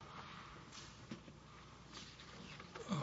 The City of Shreveport, L.L.C.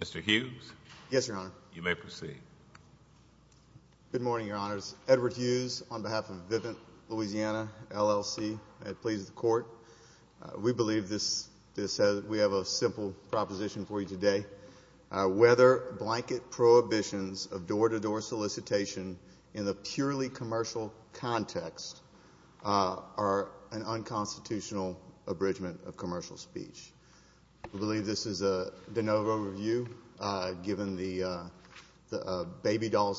Mr. Hughes Yes, Your Honor. You may proceed. Good morning, Your Honors. Edward Hughes on behalf of Vivint, Louisiana, L.L.C. at Pleas of the Court. We believe we have a simple proposition for you today. Whether blanket prohibitions of door-to-door solicitation in the purely commercial context are an unconstitutional abridgment of commercial speech. We believe this is a de novo review given the Baby Doll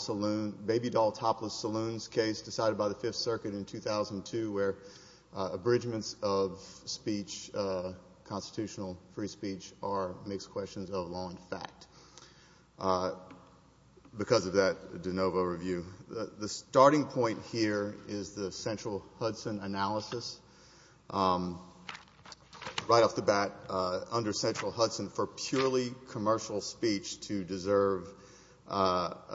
Topless Saloon case decided by the Fifth Circuit in 2002 where abridgments of speech, constitutional free speech, are mixed questions of law and fact. Because of that de novo review, the starting point here is the Central Hudson analysis. Right off the bat, under Central Hudson, for purely commercial speech to deserve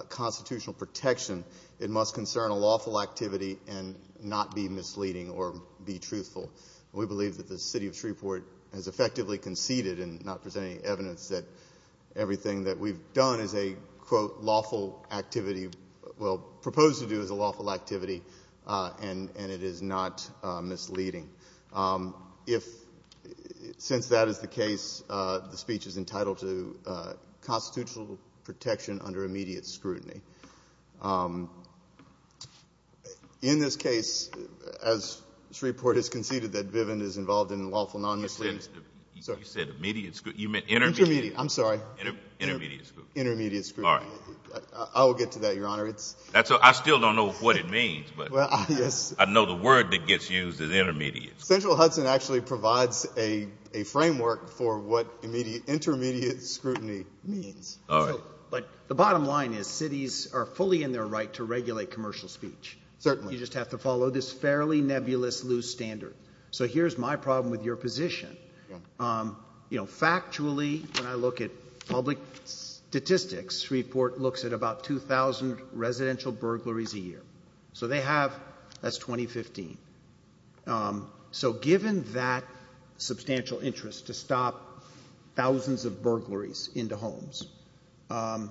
constitutional protection, it must concern a lawful activity and not be misleading or be truthful. We believe that the City of Shreveport has effectively conceded in not presenting evidence that everything that we've done is a, quote, lawful activity, well, proposed to do as a lawful activity, and it is not misleading. Since that is the case, the speech is entitled to constitutional protection under immediate scrutiny. In this case, as Shreveport has conceded that Viven is involved in lawful non-misleadings You said immediate scrutiny. Intermediate. I'm sorry. Intermediate scrutiny. Intermediate scrutiny. I will get to that, Your Honor. I still don't know what it means, but I know the word that gets used is intermediate. Central Hudson actually provides a framework for what intermediate scrutiny means. But the bottom line is cities are fully in their right to regulate commercial speech. Certainly. You just have to follow this fairly nebulous loose standard. So here's my problem with your position. You know, factually, when I look at public statistics, Shreveport looks at about 2,000 residential burglaries a year. So they have, that's 2015. Um, so given that substantial interest to stop thousands of burglaries into homes, um,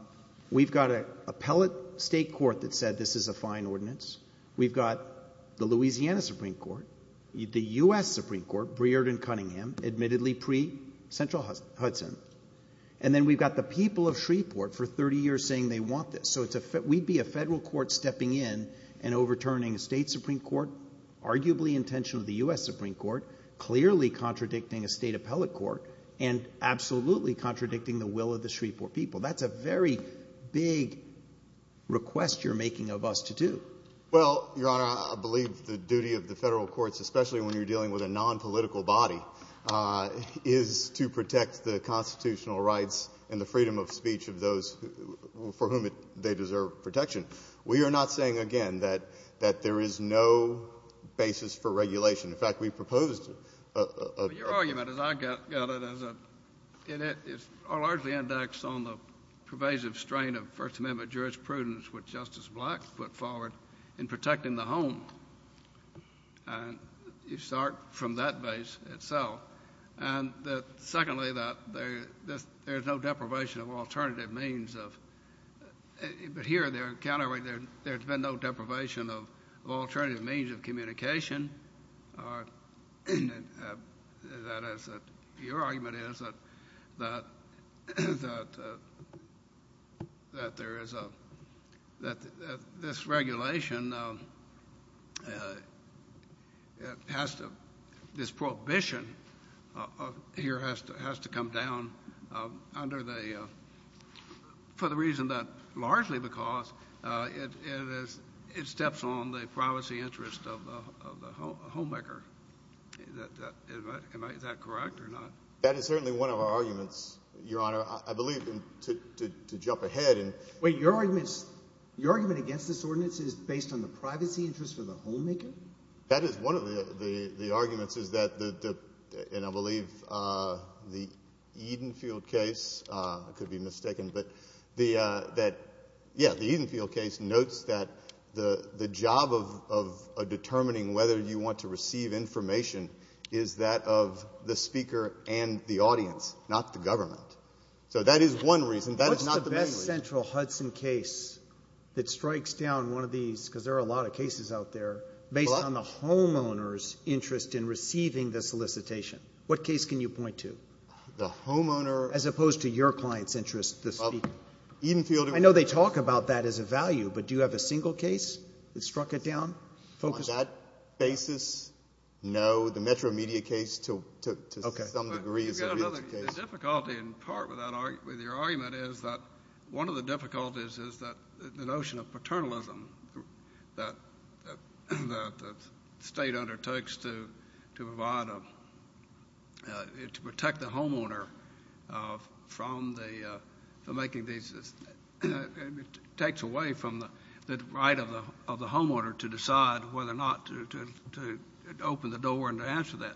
we've got a appellate state court that said this is a fine ordinance. We've got the Louisiana Supreme Court, the U.S. Supreme Court, Breyer and Cunningham, admittedly pre-Central Hudson. And then we've got the people of Shreveport for 30 years saying they want this. So we'd be a federal court stepping in and overturning a state Supreme Court, arguably intentional of the U.S. Supreme Court, clearly contradicting a state appellate court and absolutely contradicting the will of the Shreveport people. That's a very big request you're making of us to do. Well, Your Honor, I believe the duty of the federal courts, especially when you're dealing with a nonpolitical body, is to protect the constitutional rights and the freedom of speech of those for whom they deserve protection. We are not saying, again, that there is no basis for regulation. In fact, we proposed a— Your argument, as I got it, is largely indexed on the pervasive strain of First Amendment jurisprudence which Justice Black put forward in protecting the home. And you start from that base itself. And secondly, that there's no deprivation of alternative means of—but here, there's been no deprivation of alternative means of communication. That is, your argument is that this regulation has to—this prohibition here has to come down under the—for the reason that largely because it steps on the privacy interest of the homemaker. Is that correct or not? That is certainly one of our arguments, Your Honor, I believe, to jump ahead and— Wait, your argument is—your argument against this ordinance is based on the privacy interest of the homemaker? That is one of the arguments, is that the—and I believe the Edenfield case, I could be mistaken, but the—yeah, the Edenfield case notes that the job of determining whether you want to receive information is that of the speaker and the audience, not the government. So that is one reason. What's the best central Hudson case that strikes down one of these, because there are a lot of cases out there, based on the homeowner's interest in receiving the solicitation? What case can you point to? The homeowner— As opposed to your client's interest, the speaker. Edenfield— I know they talk about that as a value, but do you have a single case that struck it down, focused on— The Metro Media case, to some degree, is a realty case. The difficulty, in part, with your argument is that one of the difficulties is that the notion of paternalism that the state undertakes to provide a—to protect the homeowner from the—for making these—takes away from the right of the homeowner to decide whether or not to open the door and to answer that.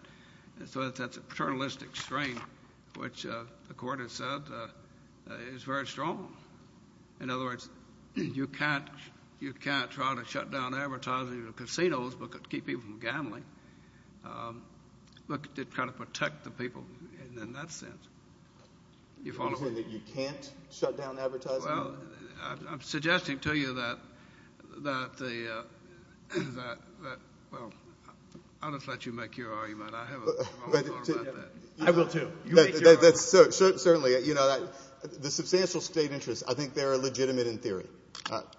So that's a paternalistic strain, which the court has said is very strong. In other words, you can't try to shut down advertising in casinos to keep people from gambling, but to try to protect the people in that sense. You follow? You're saying that you can't shut down advertising? Well, I'm suggesting to you that the—well, I'll just let you make your argument. I have a moment to talk about that. I will, too. Certainly, you know, the substantial state interests, I think they're legitimate in theory.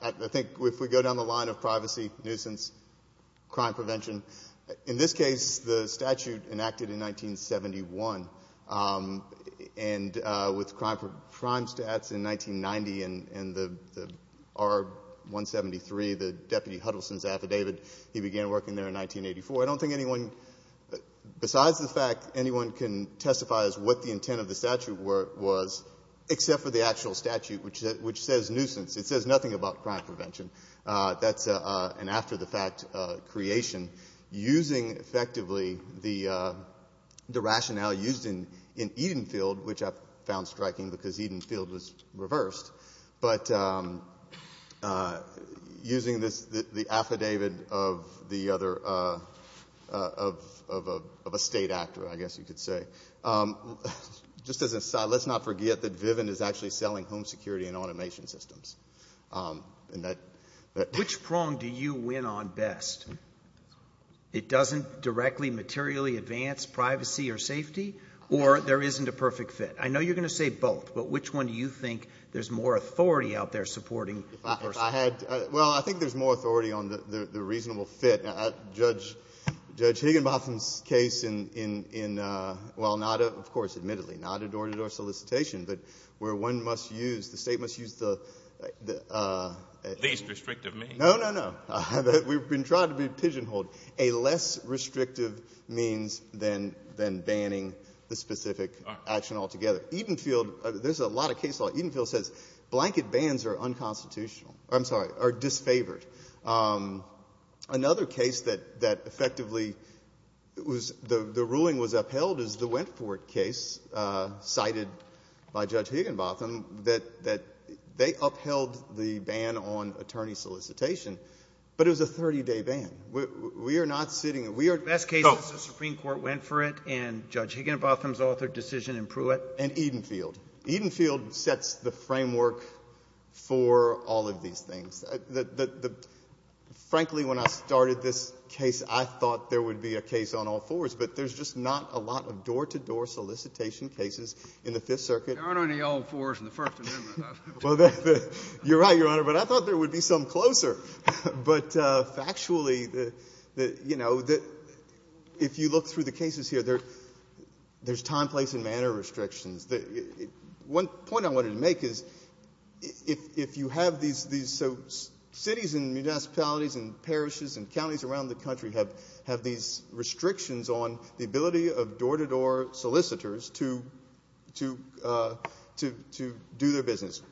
I think if we go down the line of privacy, nuisance, crime prevention, in this case, the statute enacted in 1971, and with crime stats in 1990 and the R-173, the Deputy Huddleston's affidavit, he began working there in 1984. I don't think anyone—besides the fact that anyone can testify as to what the intent of the statute was, except for the actual statute, which says nuisance. It says nothing about crime prevention. That's an after-the-fact creation, using effectively the rationale used in Edenfield, which I found striking because Edenfield was reversed, but using the affidavit of the other—of a state actor, I guess you could say. Just as an aside, let's not forget that Viven is actually selling home security and automation systems. Which prong do you win on best? It doesn't directly materially advance privacy or safety, or there isn't a perfect fit? I know you're going to say both, but which one do you think there's more authority out there supporting? I had—well, I think there's more authority on the reasonable fit. Judge Higginbotham's case in—well, not—of course, admittedly, not a door-to-door solicitation, but where one must use—the State must use the— The least restrictive means. No, no, no. We've been trying to be pigeonholed. A less restrictive means than banning the specific action altogether. Edenfield—there's a lot of case law. Edenfield says blanket bans are unconstitutional—I'm sorry, are disfavored. Another case that effectively was—the ruling was upheld is the Wentforth case, cited by Judge Higginbotham, that they upheld the ban on attorney solicitation, but it was a 30-day ban. We are not sitting— The best case is the Supreme Court went for it, and Judge Higginbotham's author decision in Pruitt— And Edenfield. Edenfield sets the framework for all of these things. Frankly, when I started this case, I thought there would be a case on all fours, but there's just not a lot of door-to-door solicitation cases in the Fifth Circuit. There aren't any all fours in the First Amendment. Well, you're right, Your Honor, but I thought there would be some closer. But factually, you know, if you look through the cases here, there's time, place, and manner restrictions. One point I wanted to make is if you have these—so cities and municipalities and parishes and counties around the country have these restrictions on the ability of door-to-door solicitors to do their business.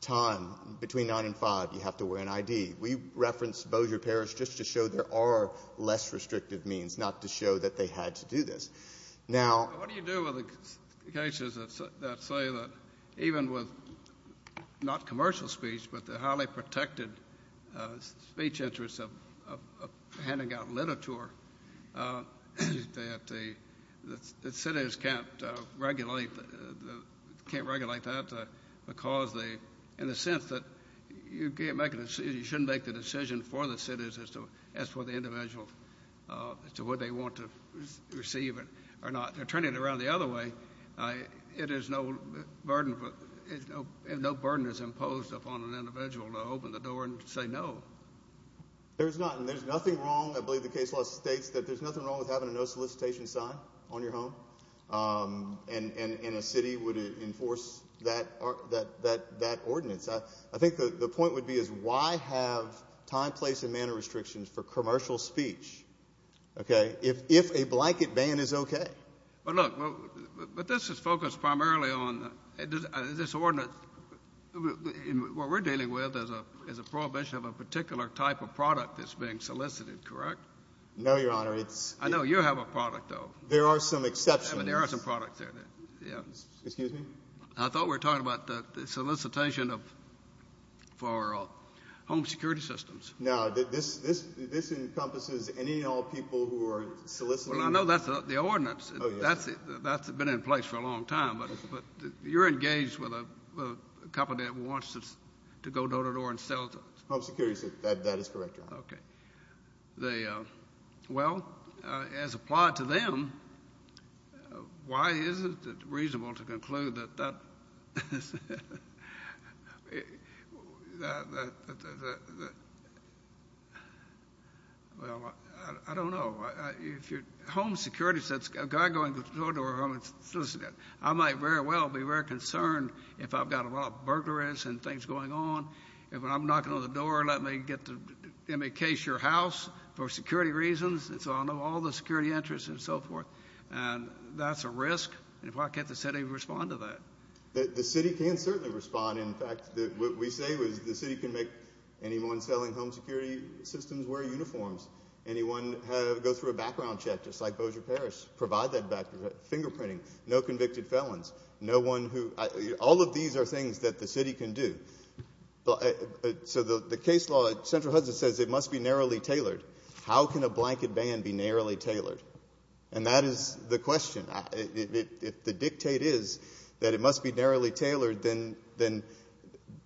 Time, between 9 and 5, you have to wear an ID. We referenced Bossier Parish just to show there are less restrictive means, not to show that they had to do this. Now— What do you do with the cases that say that even with not commercial speech, but the highly protected speech interests of handing out literature, that the cities can't regulate that because they—in the sense that you shouldn't make the decision for the cities as to what the individual—as to whether they want to receive or not, or turn it around the other way, it is no burden—no burden is imposed upon an individual to open the door and say no. There's not, and there's nothing wrong—I believe the case law states that there's nothing wrong with having a no solicitation sign on your home, and a city would enforce that ordinance. I think the point would be is why have time, place, and manner restrictions for commercial speech, okay? If a blanket ban is okay. But look, but this is focused primarily on this ordinance. What we're dealing with is a prohibition of a particular type of product that's being solicited, correct? No, Your Honor, it's— I know you have a product, though. There are some exceptions. There are some products there, yeah. Excuse me? I thought we were talking about the solicitation of—for home security systems. No, this encompasses any and all people who are soliciting— Well, I know that's the ordinance. That's been in place for a long time, but you're engaged with a company that wants to go door-to-door and sell to— Home security systems, that is correct, Your Honor. Okay. The—Well, as applied to them, why isn't it reasonable to conclude that that— Well, I don't know. If your home security says a guy going door-to-door, I'm a solicitor. I might very well be very concerned if I've got a lot of burglaries and things going on. If I'm knocking on the door, let me get to—let me case your house for security reasons. And so I'll know all the security interests and so forth. And that's a risk. And why can't the city respond to that? The city can certainly respond. In fact, what we say is the city can make anyone selling home security systems wear uniforms. Anyone go through a background check, just like Bossier-Paris, provide that back—fingerprinting. No convicted felons. No one who—all of these are things that the city can do. But so the case law at Central Hudson says it must be narrowly tailored. How can a blanket ban be narrowly tailored? And that is the question. If the dictate is that it must be narrowly tailored, then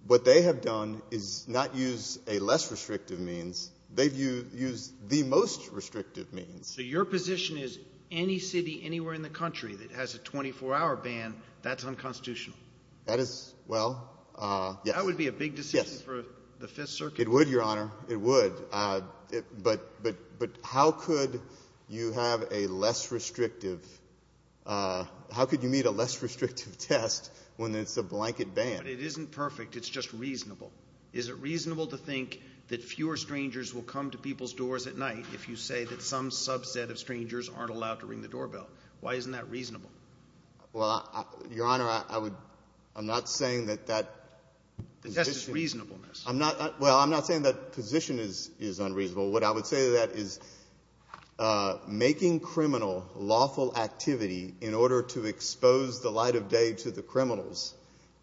what they have done is not use a less restrictive means. They've used the most restrictive means. So your position is any city anywhere in the country that has a 24-hour ban, that's unconstitutional? That is—well, yes. That would be a big decision for the Fifth Circuit. It would, Your Honor. It would. But how could you have a less restrictive—how could you meet a less restrictive test when it's a blanket ban? It isn't perfect. It's just reasonable. Is it reasonable to think that fewer strangers will come to people's doors at night if you say that some subset of strangers aren't allowed to ring the doorbell? Why isn't that reasonable? Well, Your Honor, I would—I'm not saying that that— The test is reasonableness. I'm not—well, I'm not saying that position is unreasonable. What I would say to that is making criminal lawful activity in order to expose the light of day to the criminals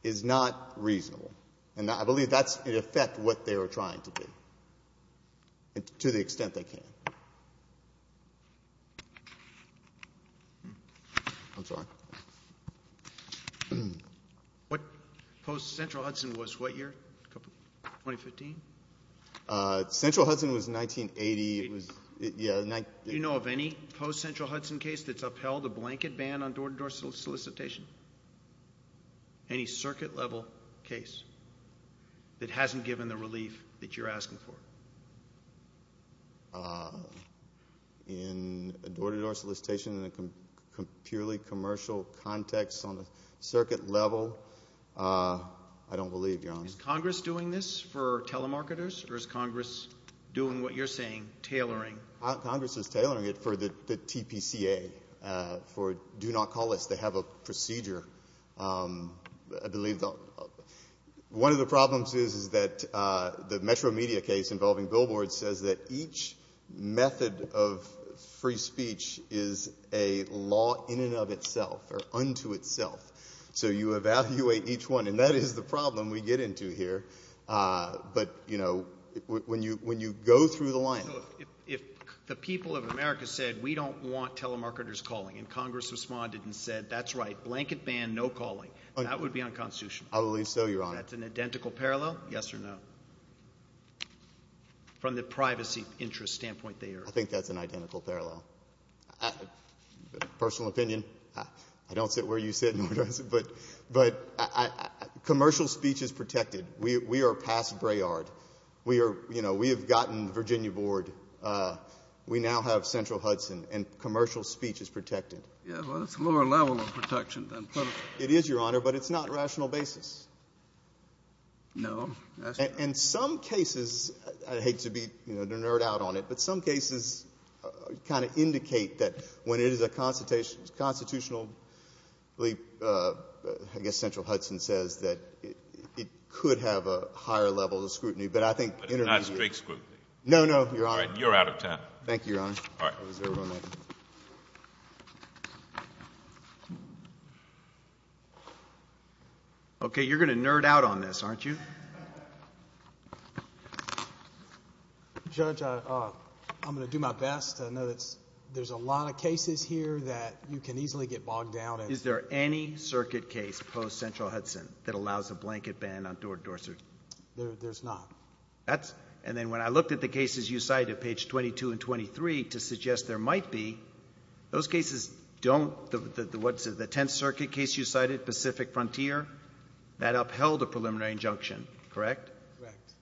is not reasonable. And I believe that's, in effect, what they were trying to do, to the extent they can. I'm sorry. What post-Central Hudson was? What year? 2015? Central Hudson was 1980. It was—yeah, 19— Do you know of any post-Central Hudson case that's upheld a blanket ban on door-to-door solicitation? Any circuit-level case that hasn't given the relief that you're asking for? In a door-to-door solicitation, in a purely commercial context on a circuit level, I don't believe, Your Honor. Is Congress doing this for telemarketers, or is Congress doing what you're saying, tailoring? Congress is tailoring it for the TPCA, for Do Not Call Us. They have a procedure, I believe. One of the problems is, is that the Metro Media case involving Billboards says that each method of free speech is a law in and of itself, or unto itself. So you evaluate each one. And that is the problem we get into here. But, you know, when you go through the line— If the people of America said, we don't want telemarketers calling, and Congress responded and said, that's right, blanket ban, no calling, that would be unconstitutional. I believe so, Your Honor. That's an identical parallel, yes or no? From the privacy interest standpoint, they are— I think that's an identical parallel. Personal opinion, I don't sit where you sit, but commercial speech is protected. We are past Braillard. We have gotten the Virginia board. We now have Central Hudson, and commercial speech is protected. Yeah, well, that's a lower level of protection than political. It is, Your Honor, but it's not rational basis. No. And some cases—I hate to be, you know, a nerd out on it, but some cases kind of indicate that when it is a constitutional—I guess Central Hudson says that it could have a higher level of scrutiny, but I think— But it's not strict scrutiny. No, no, Your Honor. You're out of time. Thank you, Your Honor. All right. Thank you. Okay, you're going to nerd out on this, aren't you? Judge, I'm going to do my best. I know that there's a lot of cases here that you can easily get bogged down in. Is there any circuit case post-Central Hudson that allows a blanket ban on door-to-door search? There's not. That's—and then when I looked at the cases you cited, page 22 and 23, to suggest there don't—what's it, the Tenth Circuit case you cited, Pacific Frontier, that upheld a preliminary injunction, correct? Correct.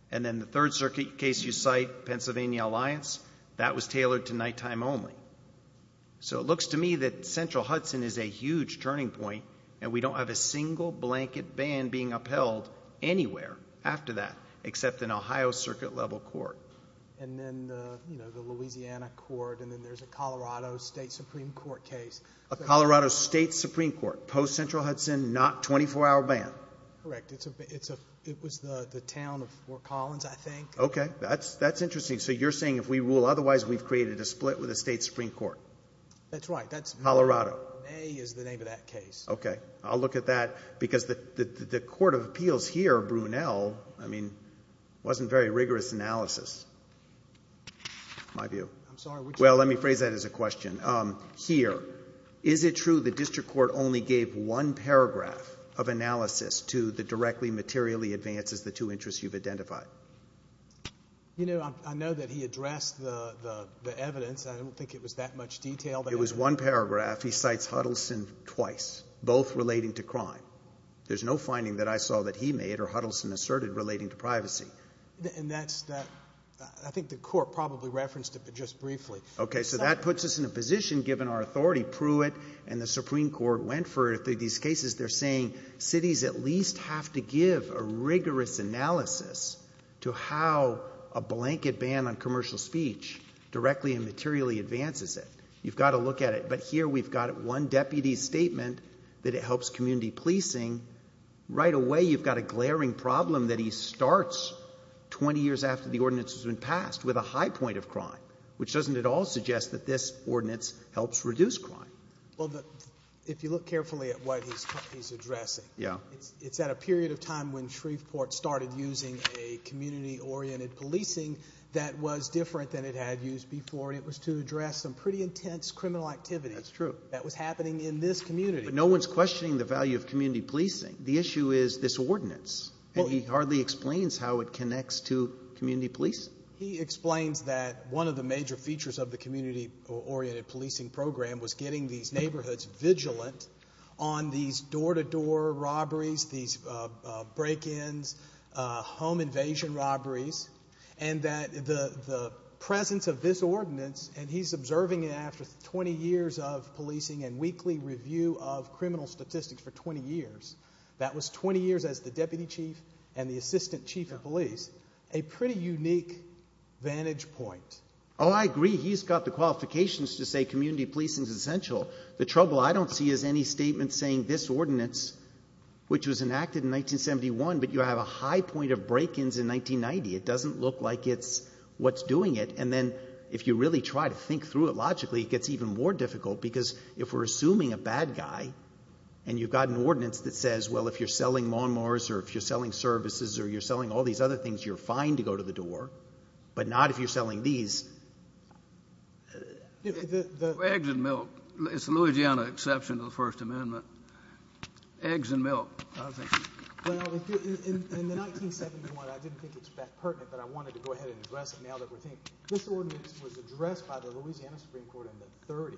And then the Third Circuit case you cite, Pennsylvania Alliance, that was tailored to nighttime only. So it looks to me that Central Hudson is a huge turning point, and we don't have a single blanket ban being upheld anywhere after that, except in Ohio Circuit-level court. And then, you know, the Louisiana court, and then there's a Colorado State Supreme Court case. A Colorado State Supreme Court, post-Central Hudson, not 24-hour ban? Correct. It's a—it was the town of Fort Collins, I think. Okay. That's interesting. So you're saying if we rule otherwise, we've created a split with the State Supreme Court? That's right. That's— Colorado. May is the name of that case. Okay. I'll look at that, because the Court of Appeals here, Brunel, I mean, wasn't very rigorous analysis, in my view. I'm sorry, which— Well, let me phrase that as a question. Here, is it true the district court only gave one paragraph of analysis to the directly, materially advances, the two interests you've identified? You know, I know that he addressed the evidence. I don't think it was that much detail. It was one paragraph. He cites Hudson twice, both relating to crime. There's no finding that I saw that he made or Hudson asserted relating to privacy. And that's—I think the court probably referenced it, but just briefly. Okay. So that puts us in a position, given our authority, Pruitt and the Supreme Court went for it. These cases, they're saying cities at least have to give a rigorous analysis to how a blanket ban on commercial speech directly and materially advances it. You've got to look at it. But here, we've got one deputy's statement that it helps community policing. Right away, you've got a glaring problem that he starts 20 years after the ordinance has been passed with a high point of crime, which doesn't at all suggest that this ordinance helps reduce crime. Well, if you look carefully at what he's addressing— Yeah. —it's at a period of time when Shreveport started using a community-oriented policing that was different than it had used before. And it was to address some pretty intense criminal activity— That's true. —that was happening in this community. No one's questioning the value of community policing. The issue is this ordinance. And he hardly explains how it connects to community policing. He explains that one of the major features of the community-oriented policing program was getting these neighborhoods vigilant on these door-to-door robberies, these break-ins, home invasion robberies, and that the presence of this ordinance—and he's observing it after 20 years of criminal statistics for 20 years—that was 20 years as the deputy chief and the assistant chief of police, a pretty unique vantage point. Oh, I agree. He's got the qualifications to say community policing is essential. The trouble I don't see is any statement saying this ordinance, which was enacted in 1971, but you have a high point of break-ins in 1990. It doesn't look like it's what's doing it. And then if you really try to think through it logically, it gets even more difficult, because if we're assuming a bad guy and you've got an ordinance that says, well, if you're selling maw mowers or if you're selling services or you're selling all these other things, you're fine to go to the door, but not if you're selling these. Eggs and milk. It's the Louisiana exception to the First Amendment. Eggs and milk, I think. Well, in 1971, I didn't think it was that pertinent, but I wanted to go ahead and address it now that we're thinking. This ordinance was addressed by the Louisiana Supreme Court in the 30s,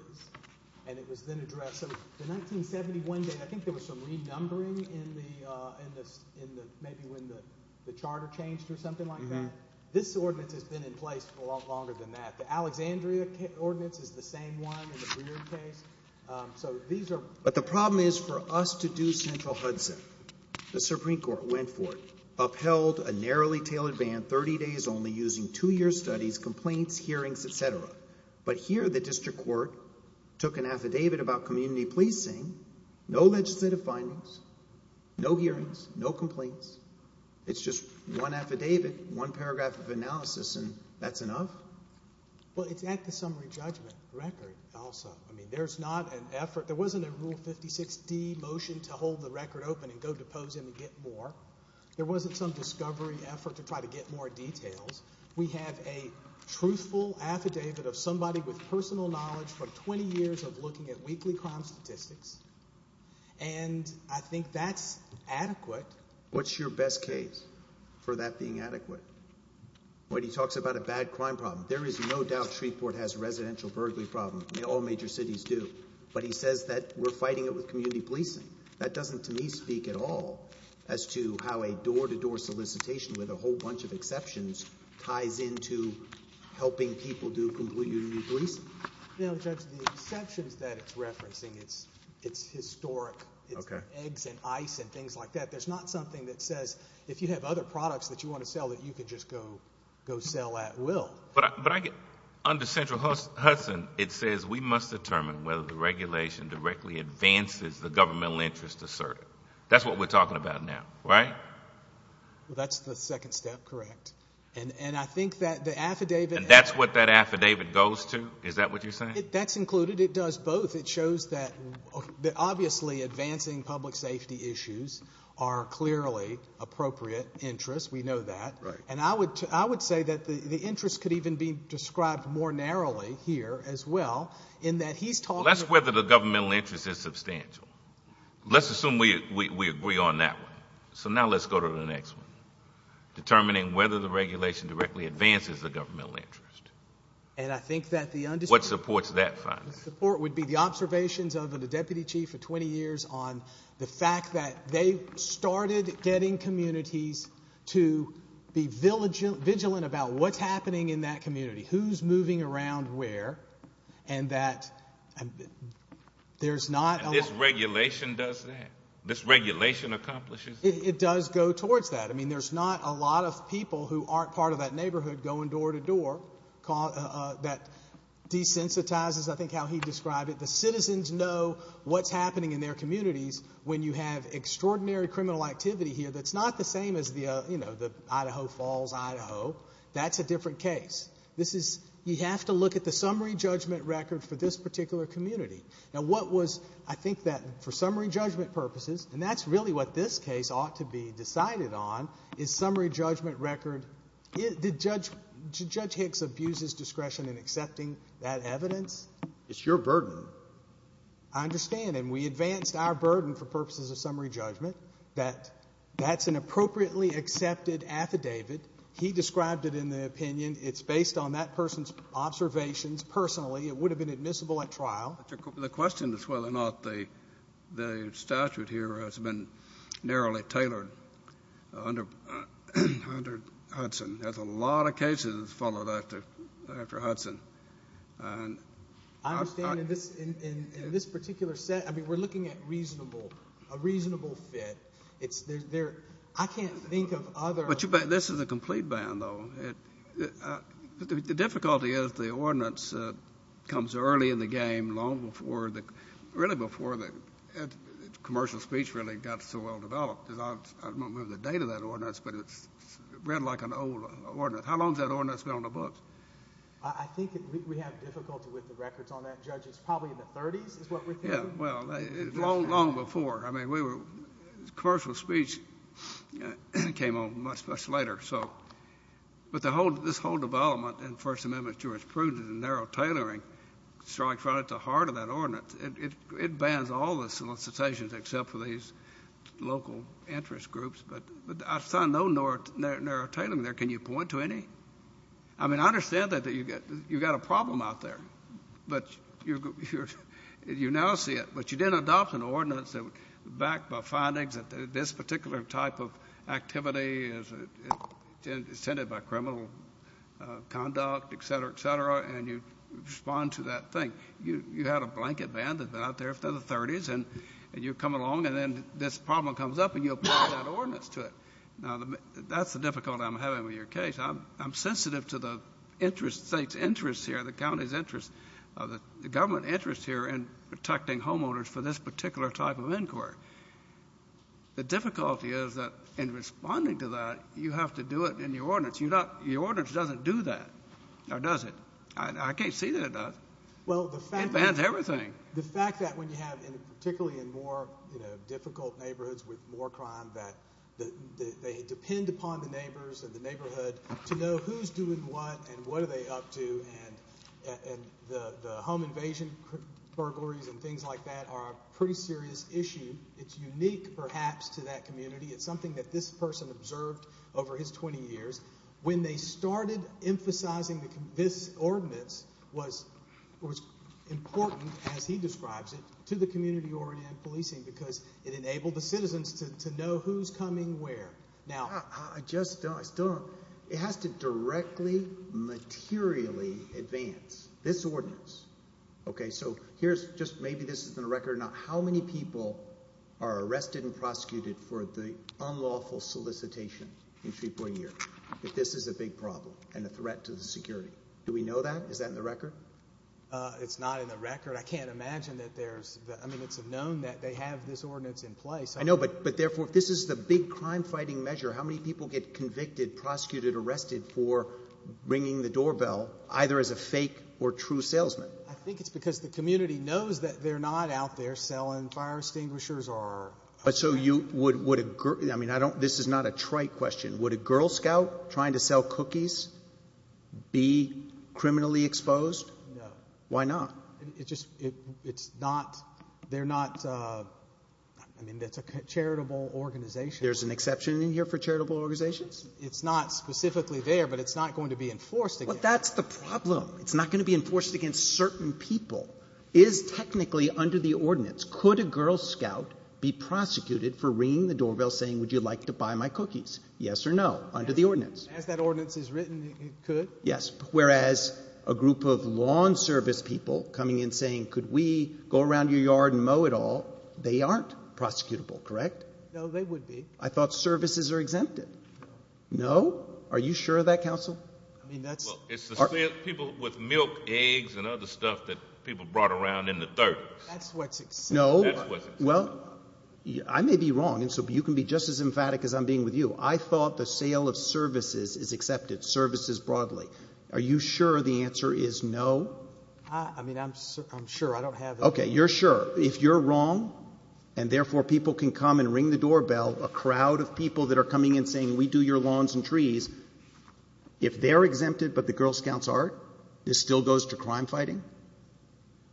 and it was then addressed. So the 1971 date, I think there was some renumbering in the, maybe when the charter changed or something like that. This ordinance has been in place for a lot longer than that. The Alexandria ordinance is the same one in the Breard case. But the problem is, for us to do central Hudson, the Supreme Court went for it, upheld a narrowly banned 30 days only using two-year studies, complaints, hearings, et cetera. But here, the district court took an affidavit about community policing, no legislative findings, no hearings, no complaints. It's just one affidavit, one paragraph of analysis, and that's enough? Well, it's at the summary judgment record also. I mean, there's not an effort. There wasn't a Rule 56D motion to hold the record open and go depose him and get more. There wasn't some discovery effort to try to get more details. We have a truthful affidavit of somebody with personal knowledge for 20 years of looking at weekly crime statistics, and I think that's adequate. What's your best case for that being adequate? When he talks about a bad crime problem, there is no doubt Shreveport has a residential burglary problem. All major cities do. But he says that we're fighting it with community policing. That doesn't, to me, speak at all as to how a door-to-door solicitation with a whole bunch of exceptions ties into helping people do community policing. Now, Judge, the exceptions that it's referencing, it's historic. It's eggs and ice and things like that. There's not something that says if you have other products that you want to sell that you can just go sell at will. Under Central Hudson, it says we must determine whether the regulation directly advances the governmental interest asserted. That's what we're talking about now, right? Well, that's the second step, correct. And I think that the affidavit... And that's what that affidavit goes to? Is that what you're saying? That's included. It does both. It shows that obviously advancing public safety issues are clearly appropriate interests. We know that. Right. And I would say that the interest could even be described more narrowly here as well in that he's talking... That's whether the governmental interest is substantial. Let's assume we agree on that one. So now let's go to the next one. Determining whether the regulation directly advances the governmental interest. And I think that the... What supports that finding? The support would be the observations of the Deputy Chief for 20 years on the fact that they started getting communities to be vigilant about what's happening in that community, who's moving around where, and that there's not... And this regulation does that? This regulation accomplishes that? It does go towards that. I mean, there's not a lot of people who aren't part of that neighborhood going door to door that desensitizes, I think, how he described it. The citizens know what's happening in their communities when you have extraordinary criminal activity here that's not the same as the Idaho Falls, Idaho. That's a different case. You have to look at the summary judgment record for this particular community. Now what was... I think that for summary judgment purposes, and that's really what this case ought to be decided on, is summary judgment record... Judge Hicks abuses discretion in accepting that evidence. It's your burden. I understand. And we advanced our burden for purposes of summary judgment. That's an appropriately accepted affidavit. He described it in the opinion. It's based on that person's observations personally. It would have been admissible at trial. But the question is whether or not the statute here has been narrowly tailored under Hudson. There's a lot of cases that followed after Hudson. I understand. In this particular set, I mean, we're looking at a reasonable fit. I can't think of other... But this is a complete ban, though. The difficulty is the ordinance comes early in the game, long before the... Really before the commercial speech really got so well developed. Because I don't remember the date of that ordinance, but it's read like an old ordinance. How long has that ordinance been on the books? I think we have difficulty with the records on that, Judge. It's probably in the 30s is what we think. Yeah. Well, long before. I mean, commercial speech came on much, much later. But this whole development in First Amendment jurisprudence and narrow tailoring, it's probably at the heart of that ordinance. It bans all the solicitations except for these local interest groups. But I saw no narrow tailoring there. Can you point to any? I mean, I understand that you got a problem out there. But you now see it. But you didn't adopt an ordinance that was backed by findings that this particular type activity is intended by criminal conduct, et cetera, et cetera. And you respond to that thing. You had a blanket ban that's been out there for the 30s. And you come along and then this problem comes up and you apply that ordinance to it. Now, that's the difficulty I'm having with your case. I'm sensitive to the interest, state's interest here, the county's interest, the government interest here in protecting homeowners for this particular type of inquiry. The difficulty is that in responding to that, you have to do it in your ordinance. Your ordinance doesn't do that, or does it? I can't see that it does. It bans everything. The fact that when you have, particularly in more difficult neighborhoods with more crime, that they depend upon the neighbors and the neighborhood to know who's doing what and what are they up to. And the home invasion burglaries and things like that are a pretty serious issue. It's unique, perhaps, to that community. It's something that this person observed over his 20 years. When they started emphasizing this ordinance was important, as he describes it, to the community-oriented policing because it enabled the citizens to know who's coming where. Now, I just don't, I still don't, it has to directly, materially advance this ordinance. Okay, so here's just, maybe this has been a record or not. How many people are arrested and prosecuted for the unlawful solicitation in 3.0? If this is a big problem and a threat to the security? Do we know that? Is that in the record? It's not in the record. I can't imagine that there's, I mean, it's known that they have this ordinance in place. I know, but therefore, if this is the big crime-fighting measure, how many people get convicted, prosecuted, arrested for ringing the doorbell, either as a fake or true salesman? I think it's because the community knows that they're not out there selling fire extinguishers or... But so you would, would a girl, I mean, I don't, this is not a trite question. Would a Girl Scout trying to sell cookies be criminally exposed? No. Why not? It's just, it's not, they're not, I mean, that's a charitable organization. There's an exception in here for charitable organizations? It's not specifically there, but it's not going to be enforced. That's the problem. It's not going to be enforced against certain people. Is technically under the ordinance, could a Girl Scout be prosecuted for ringing the doorbell saying, would you like to buy my cookies? Yes or no? Under the ordinance. As that ordinance is written, it could. Yes. Whereas a group of lawn service people coming in saying, could we go around your yard and mow it all? They aren't prosecutable, correct? No, they would be. I thought services are exempted. No. Are you sure of that, counsel? I mean, that's... Well, it's the people with milk, eggs, and other stuff that people brought around in the 30s. That's what's exempted. No, well, I may be wrong, and so you can be just as emphatic as I'm being with you. I thought the sale of services is accepted, services broadly. Are you sure the answer is no? I mean, I'm sure. I don't have... Okay, you're sure. If you're wrong, and therefore people can come and ring the doorbell, a crowd of people that are coming in saying, we do your lawns and trees, if they're exempted but the Girl Scouts aren't, this still goes to crime fighting?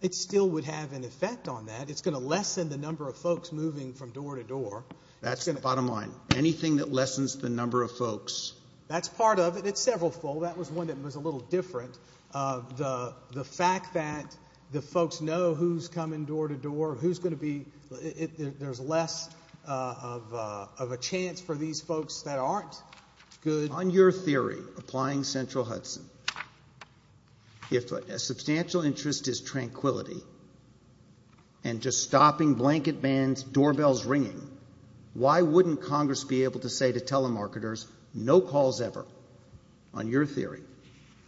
It still would have an effect on that. It's going to lessen the number of folks moving from door to door. That's the bottom line. Anything that lessens the number of folks. That's part of it. It's several-fold. That was one that was a little different. The fact that the folks know who's coming door to door, who's going to be... There's less of a chance for these folks that aren't good... On your theory, applying Central Hudson, if a substantial interest is tranquility and just stopping blanket bans, doorbells ringing, why wouldn't Congress be able to say to telemarketers, no calls ever, on your theory?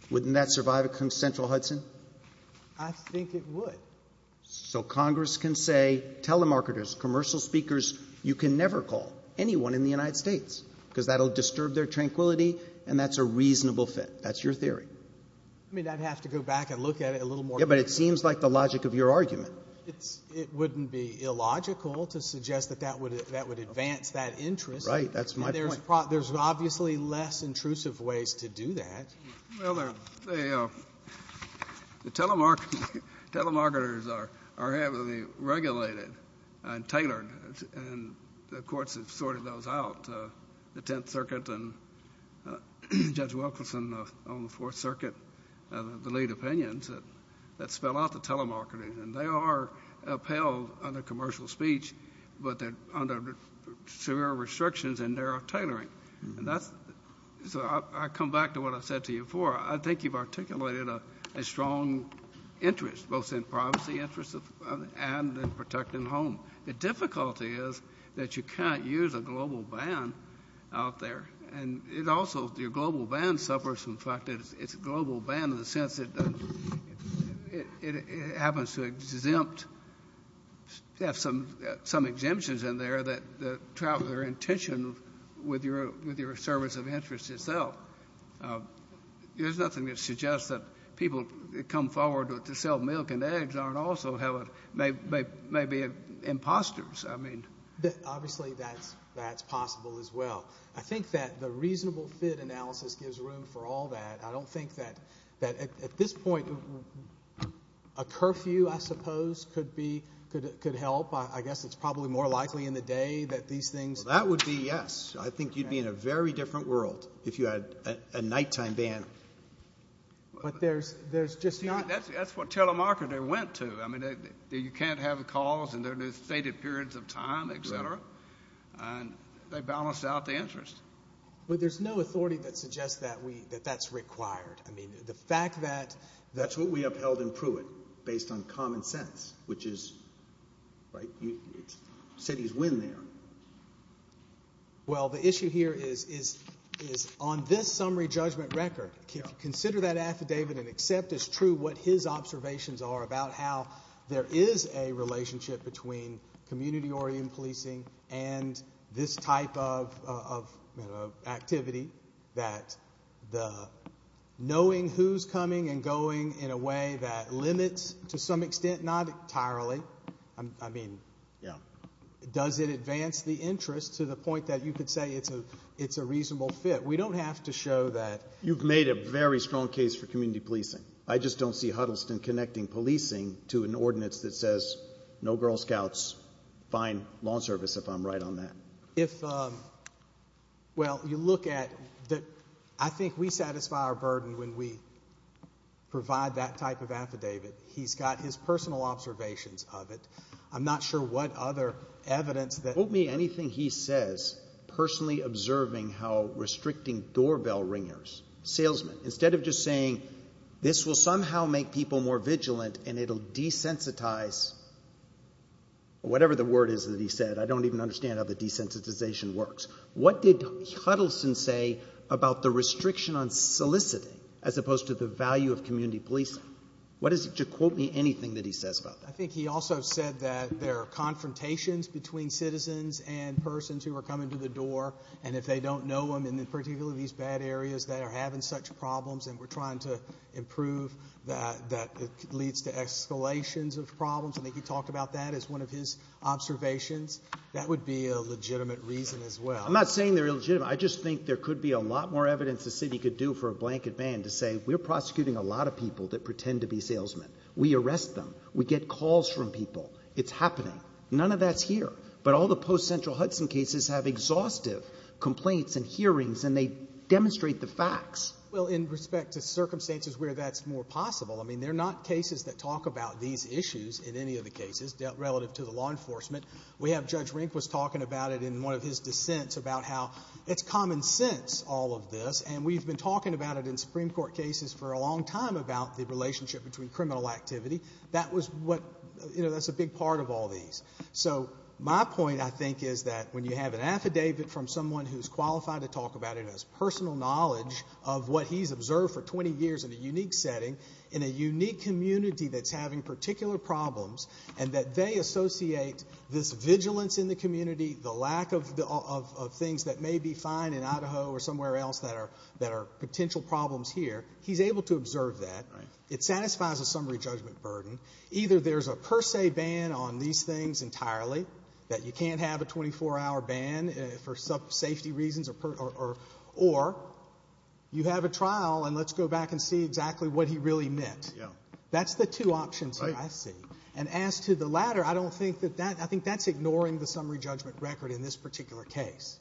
Wouldn't that survive a Central Hudson? I think it would. So Congress can say, telemarketers, commercial speakers, you can never call anyone in the United States, because that will disturb their tranquility, and that's a reasonable fit. That's your theory. I mean, I'd have to go back and look at it a little more. Yeah, but it seems like the logic of your argument. It wouldn't be illogical to suggest that that would advance that interest. Right. That's my point. There's obviously less intrusive ways to do that. Well, the telemarketers are heavily regulated and tailored, and the courts have sorted those out. The Tenth Circuit and Judge Wilkinson on the Fourth Circuit, the lead opinions that spell out the telemarketers. And they are upheld under commercial speech, but they're under severe restrictions in their tailoring. And so I come back to what I said to you before. I think you've articulated a strong interest, both in privacy interests and in protecting home. The difficulty is that you can't use a global ban out there. And your global ban suffers from the fact that it's a global ban in the sense that it happens to exempt, have some exemptions in there that travel their intention with your service of interest itself. There's nothing that suggests that people come forward to sell milk and eggs aren't also, may be imposters. I mean. Obviously, that's possible as well. I think that the reasonable fit analysis gives room for all that. I don't think that at this point a curfew, I suppose, could help. I guess it's probably more likely in the day that these things. Well, that would be yes. I think you'd be in a very different world if you had a nighttime ban. But there's just not. That's what telemarketers went to. I mean, you can't have calls in their new stated periods of time, et cetera. And they balance out the interest. Well, there's no authority that suggests that that's required. I mean, the fact that. That's what we upheld in Pruitt, based on common sense, which is. Right. Cities win there. Well, the issue here is on this summary judgment record, consider that affidavit and accept as true what his observations are about how there is a relationship between community policing and this type of activity that the knowing who's coming and going in a way that limits to some extent, not entirely. I mean, yeah. Does it advance the interest to the point that you could say it's a reasonable fit? We don't have to show that. You've made a very strong case for community policing. I just don't see Huddleston connecting policing to an ordinance that says no Girl Scouts, fine law service, if I'm right on that. If well, you look at that. I think we satisfy our burden when we provide that type of affidavit. He's got his personal observations of it. I'm not sure what other evidence that won't mean anything. He says personally observing how restricting doorbell ringers salesmen instead of just this will somehow make people more vigilant and it'll desensitize. Whatever the word is that he said, I don't even understand how the desensitization works. What did Huddleston say about the restriction on soliciting as opposed to the value of community policing? What is it to quote me anything that he says about that? I think he also said that there are confrontations between citizens and persons who are coming to the door and if they don't know them in particularly these bad areas that are having such problems and we're trying to improve that it leads to escalations of problems. I think he talked about that as one of his observations. That would be a legitimate reason as well. I'm not saying they're illegitimate. I just think there could be a lot more evidence the city could do for a blanket ban to say we're prosecuting a lot of people that pretend to be salesmen. We arrest them. We get calls from people. It's happening. None of that's here. But all the post central Hudson cases have exhaustive complaints and hearings and they demonstrate the facts. Well, in respect to circumstances where that's more possible, I mean, they're not cases that talk about these issues in any of the cases relative to the law enforcement. We have Judge Rink was talking about it in one of his dissents about how it's common sense all of this and we've been talking about it in Supreme Court cases for a long time about the relationship between criminal activity. That was what, you know, that's a big part of all these. So my point, I think, is that when you have an affidavit from someone who's qualified to talk about it as personal knowledge of what he's observed for 20 years in a unique setting, in a unique community that's having particular problems, and that they associate this vigilance in the community, the lack of things that may be fine in Idaho or somewhere else that are potential problems here, he's able to observe that. It satisfies a summary judgment burden. Either there's a per se ban on these things entirely, that you can't have a 24 hour ban for safety reasons or you have a trial and let's go back and see exactly what he really meant. That's the two options here, I see. And as to the latter, I don't think that that, I think that's ignoring the summary judgment record in this particular case.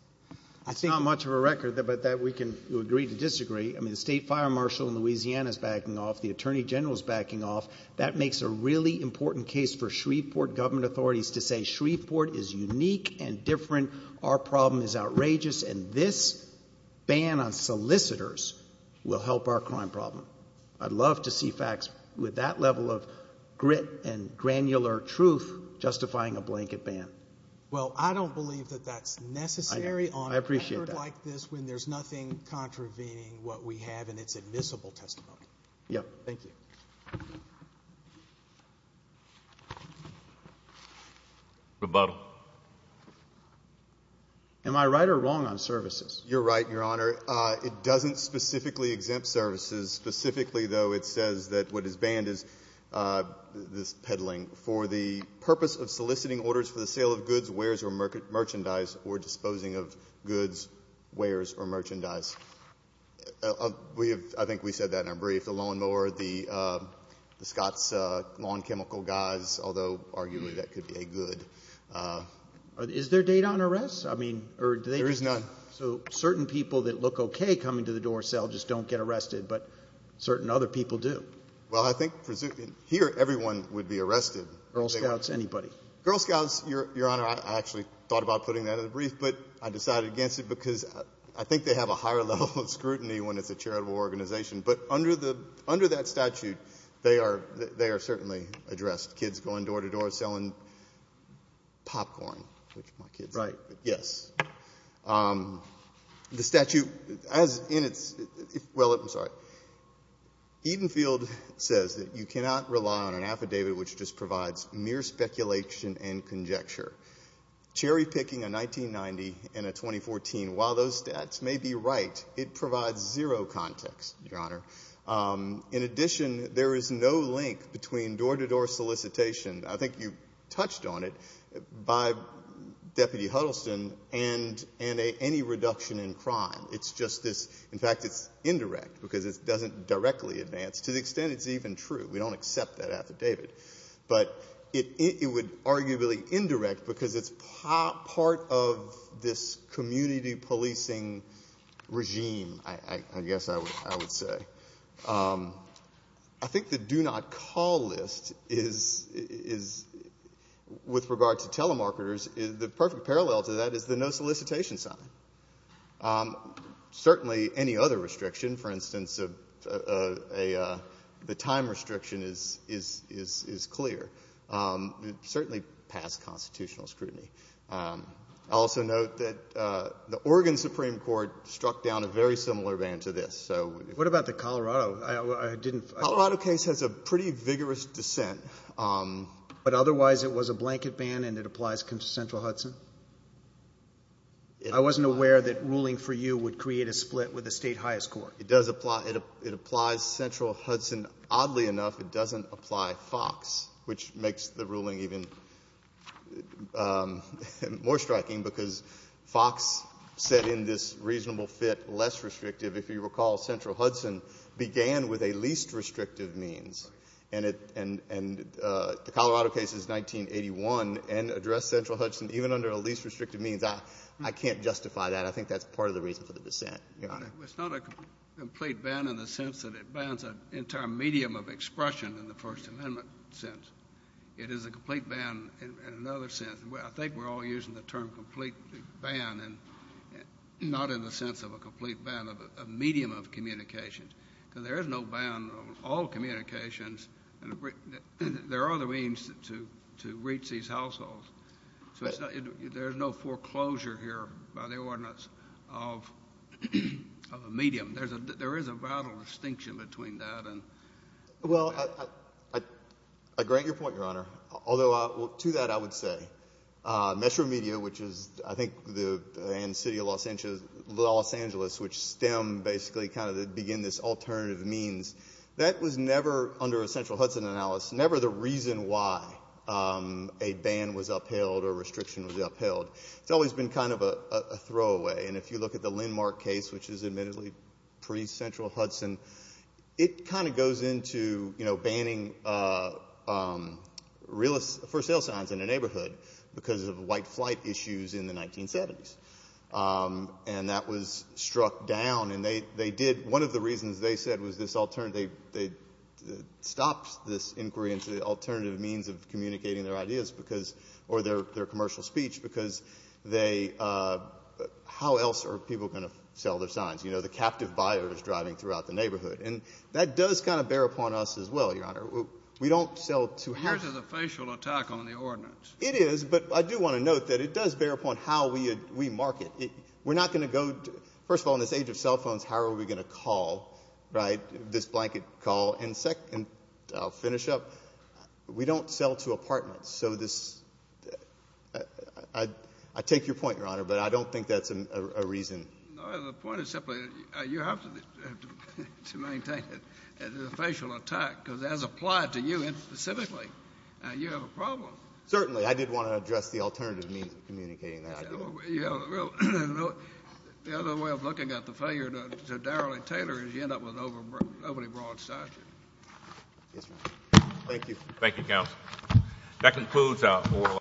It's not much of a record, but that we can agree to disagree. I mean, the state fire marshal in Louisiana is backing off. The attorney general is backing off. That makes a really important case for Shreveport government authorities to say Shreveport is unique and different, our problem is outrageous, and this ban on solicitors will help our crime problem. I'd love to see facts with that level of grit and granular truth justifying a blanket ban. Well, I don't believe that that's necessary on a record like this when there's nothing contravening what we have in its admissible testimony. Yeah. Thank you. Rebuttal. Am I right or wrong on services? You're right, Your Honor. It doesn't specifically exempt services. Specifically, though, it says that what is banned is this peddling for the purpose of soliciting orders for the sale of goods, wares, or merchandise or disposing of goods, wares, or merchandise. We have, I think we said that in our brief, the lawn mower, the Scott's Lawn Chemical guys, although arguably that could be a good... Is there data on arrests? I mean, or do they... There is none. So certain people that look okay coming to the door sale just don't get arrested, but certain other people do. Well, I think here everyone would be arrested. Girl Scouts, anybody. Girl Scouts, Your Honor, I actually thought about putting that in the brief, but I decided against it because I think they have a higher level of scrutiny when it's a charitable organization. But under that statute, they are certainly addressed. Kids going door to door selling popcorn, which my kids like. Yes. The statute, as in its... Well, I'm sorry. Edenfield says that you cannot rely on an affidavit which just provides mere speculation and conjecture. Cherry picking a 1990 and a 2014, while those stats may be right, it provides zero context, Your Honor. In addition, there is no link between door to door solicitation, I think you touched on it, by Deputy Huddleston, and any reduction in crime. It's just this... In fact, it's indirect because it doesn't directly advance, to the extent it's even true. We don't accept that affidavit. But it would arguably indirect because it's part of this community policing regime, I guess I would say. I think the do not call list is, with regard to telemarketers, the perfect parallel to that is the no solicitation sign. Certainly, any other restriction, for instance, the time restriction is clear. Certainly past constitutional scrutiny. I'll also note that the Oregon Supreme Court struck down a very similar ban to this. So... What about the Colorado? I didn't... The Colorado case has a pretty vigorous dissent. But otherwise, it was a blanket ban and it applies to Central Hudson? I wasn't aware that ruling for you would create a split with the state highest court. It does apply. It applies Central Hudson. Oddly enough, it doesn't apply Fox, which makes the ruling even more striking because Fox said in this reasonable fit, less restrictive. If you recall, Central Hudson began with a least restrictive means. And the Colorado case is 1981 and addressed Central Hudson even under a least restrictive means. I can't justify that. I think that's part of the reason for the dissent, Your Honor. It's not a complete ban in the sense that it bans an entire medium of expression in the First Amendment sense. It is a complete ban in another sense. I think we're all using the term complete ban and not in the sense of a complete ban of a medium of communication. Because there is no ban on all communications. And there are other means to reach these households. So there's no foreclosure here by the ordinance of a medium. There is a vital distinction between that and... Well, I grant your point, Your Honor. Although to that, I would say Metro Media, which is, I think, in the city of Los Angeles, which stem basically kind of begin this alternative means, that was never, under a Central Hudson analysis, never the reason why a ban was upheld or restriction was upheld. It's always been kind of a throwaway. And if you look at the Lindmark case, which is admittedly pre-Central Hudson, it kind of goes into, you know, banning for sale signs in a neighborhood because of white flight issues in the 1970s. And that was struck down. And they did, one of the reasons they said was this alternative, they stopped this inquiry into the alternative means of communicating their ideas because, or their commercial speech, because they, how else are people going to sell their signs? You know, the captive buyers driving throughout the neighborhood. And that does kind of bear upon us as well, Your Honor. We don't sell to... There's a facial attack on the ordinance. It is, but I do want to note that it does bear upon how we market. We're not going to go, first of all, in this age of cell phones, how are we going to call, right, this blanket call? And second, I'll finish up. We don't sell to apartments. So this, I take your point, Your Honor, but I don't think that's a reason. The point is simply, you have to maintain it as a facial attack because as applied to you specifically, you have a problem. Certainly, I did want to address the alternative means of communicating that idea. The other way of looking at the failure to Darrelly Taylor is you end up with an overly broad statute. Thank you. Thank you, Counsel. That concludes oral...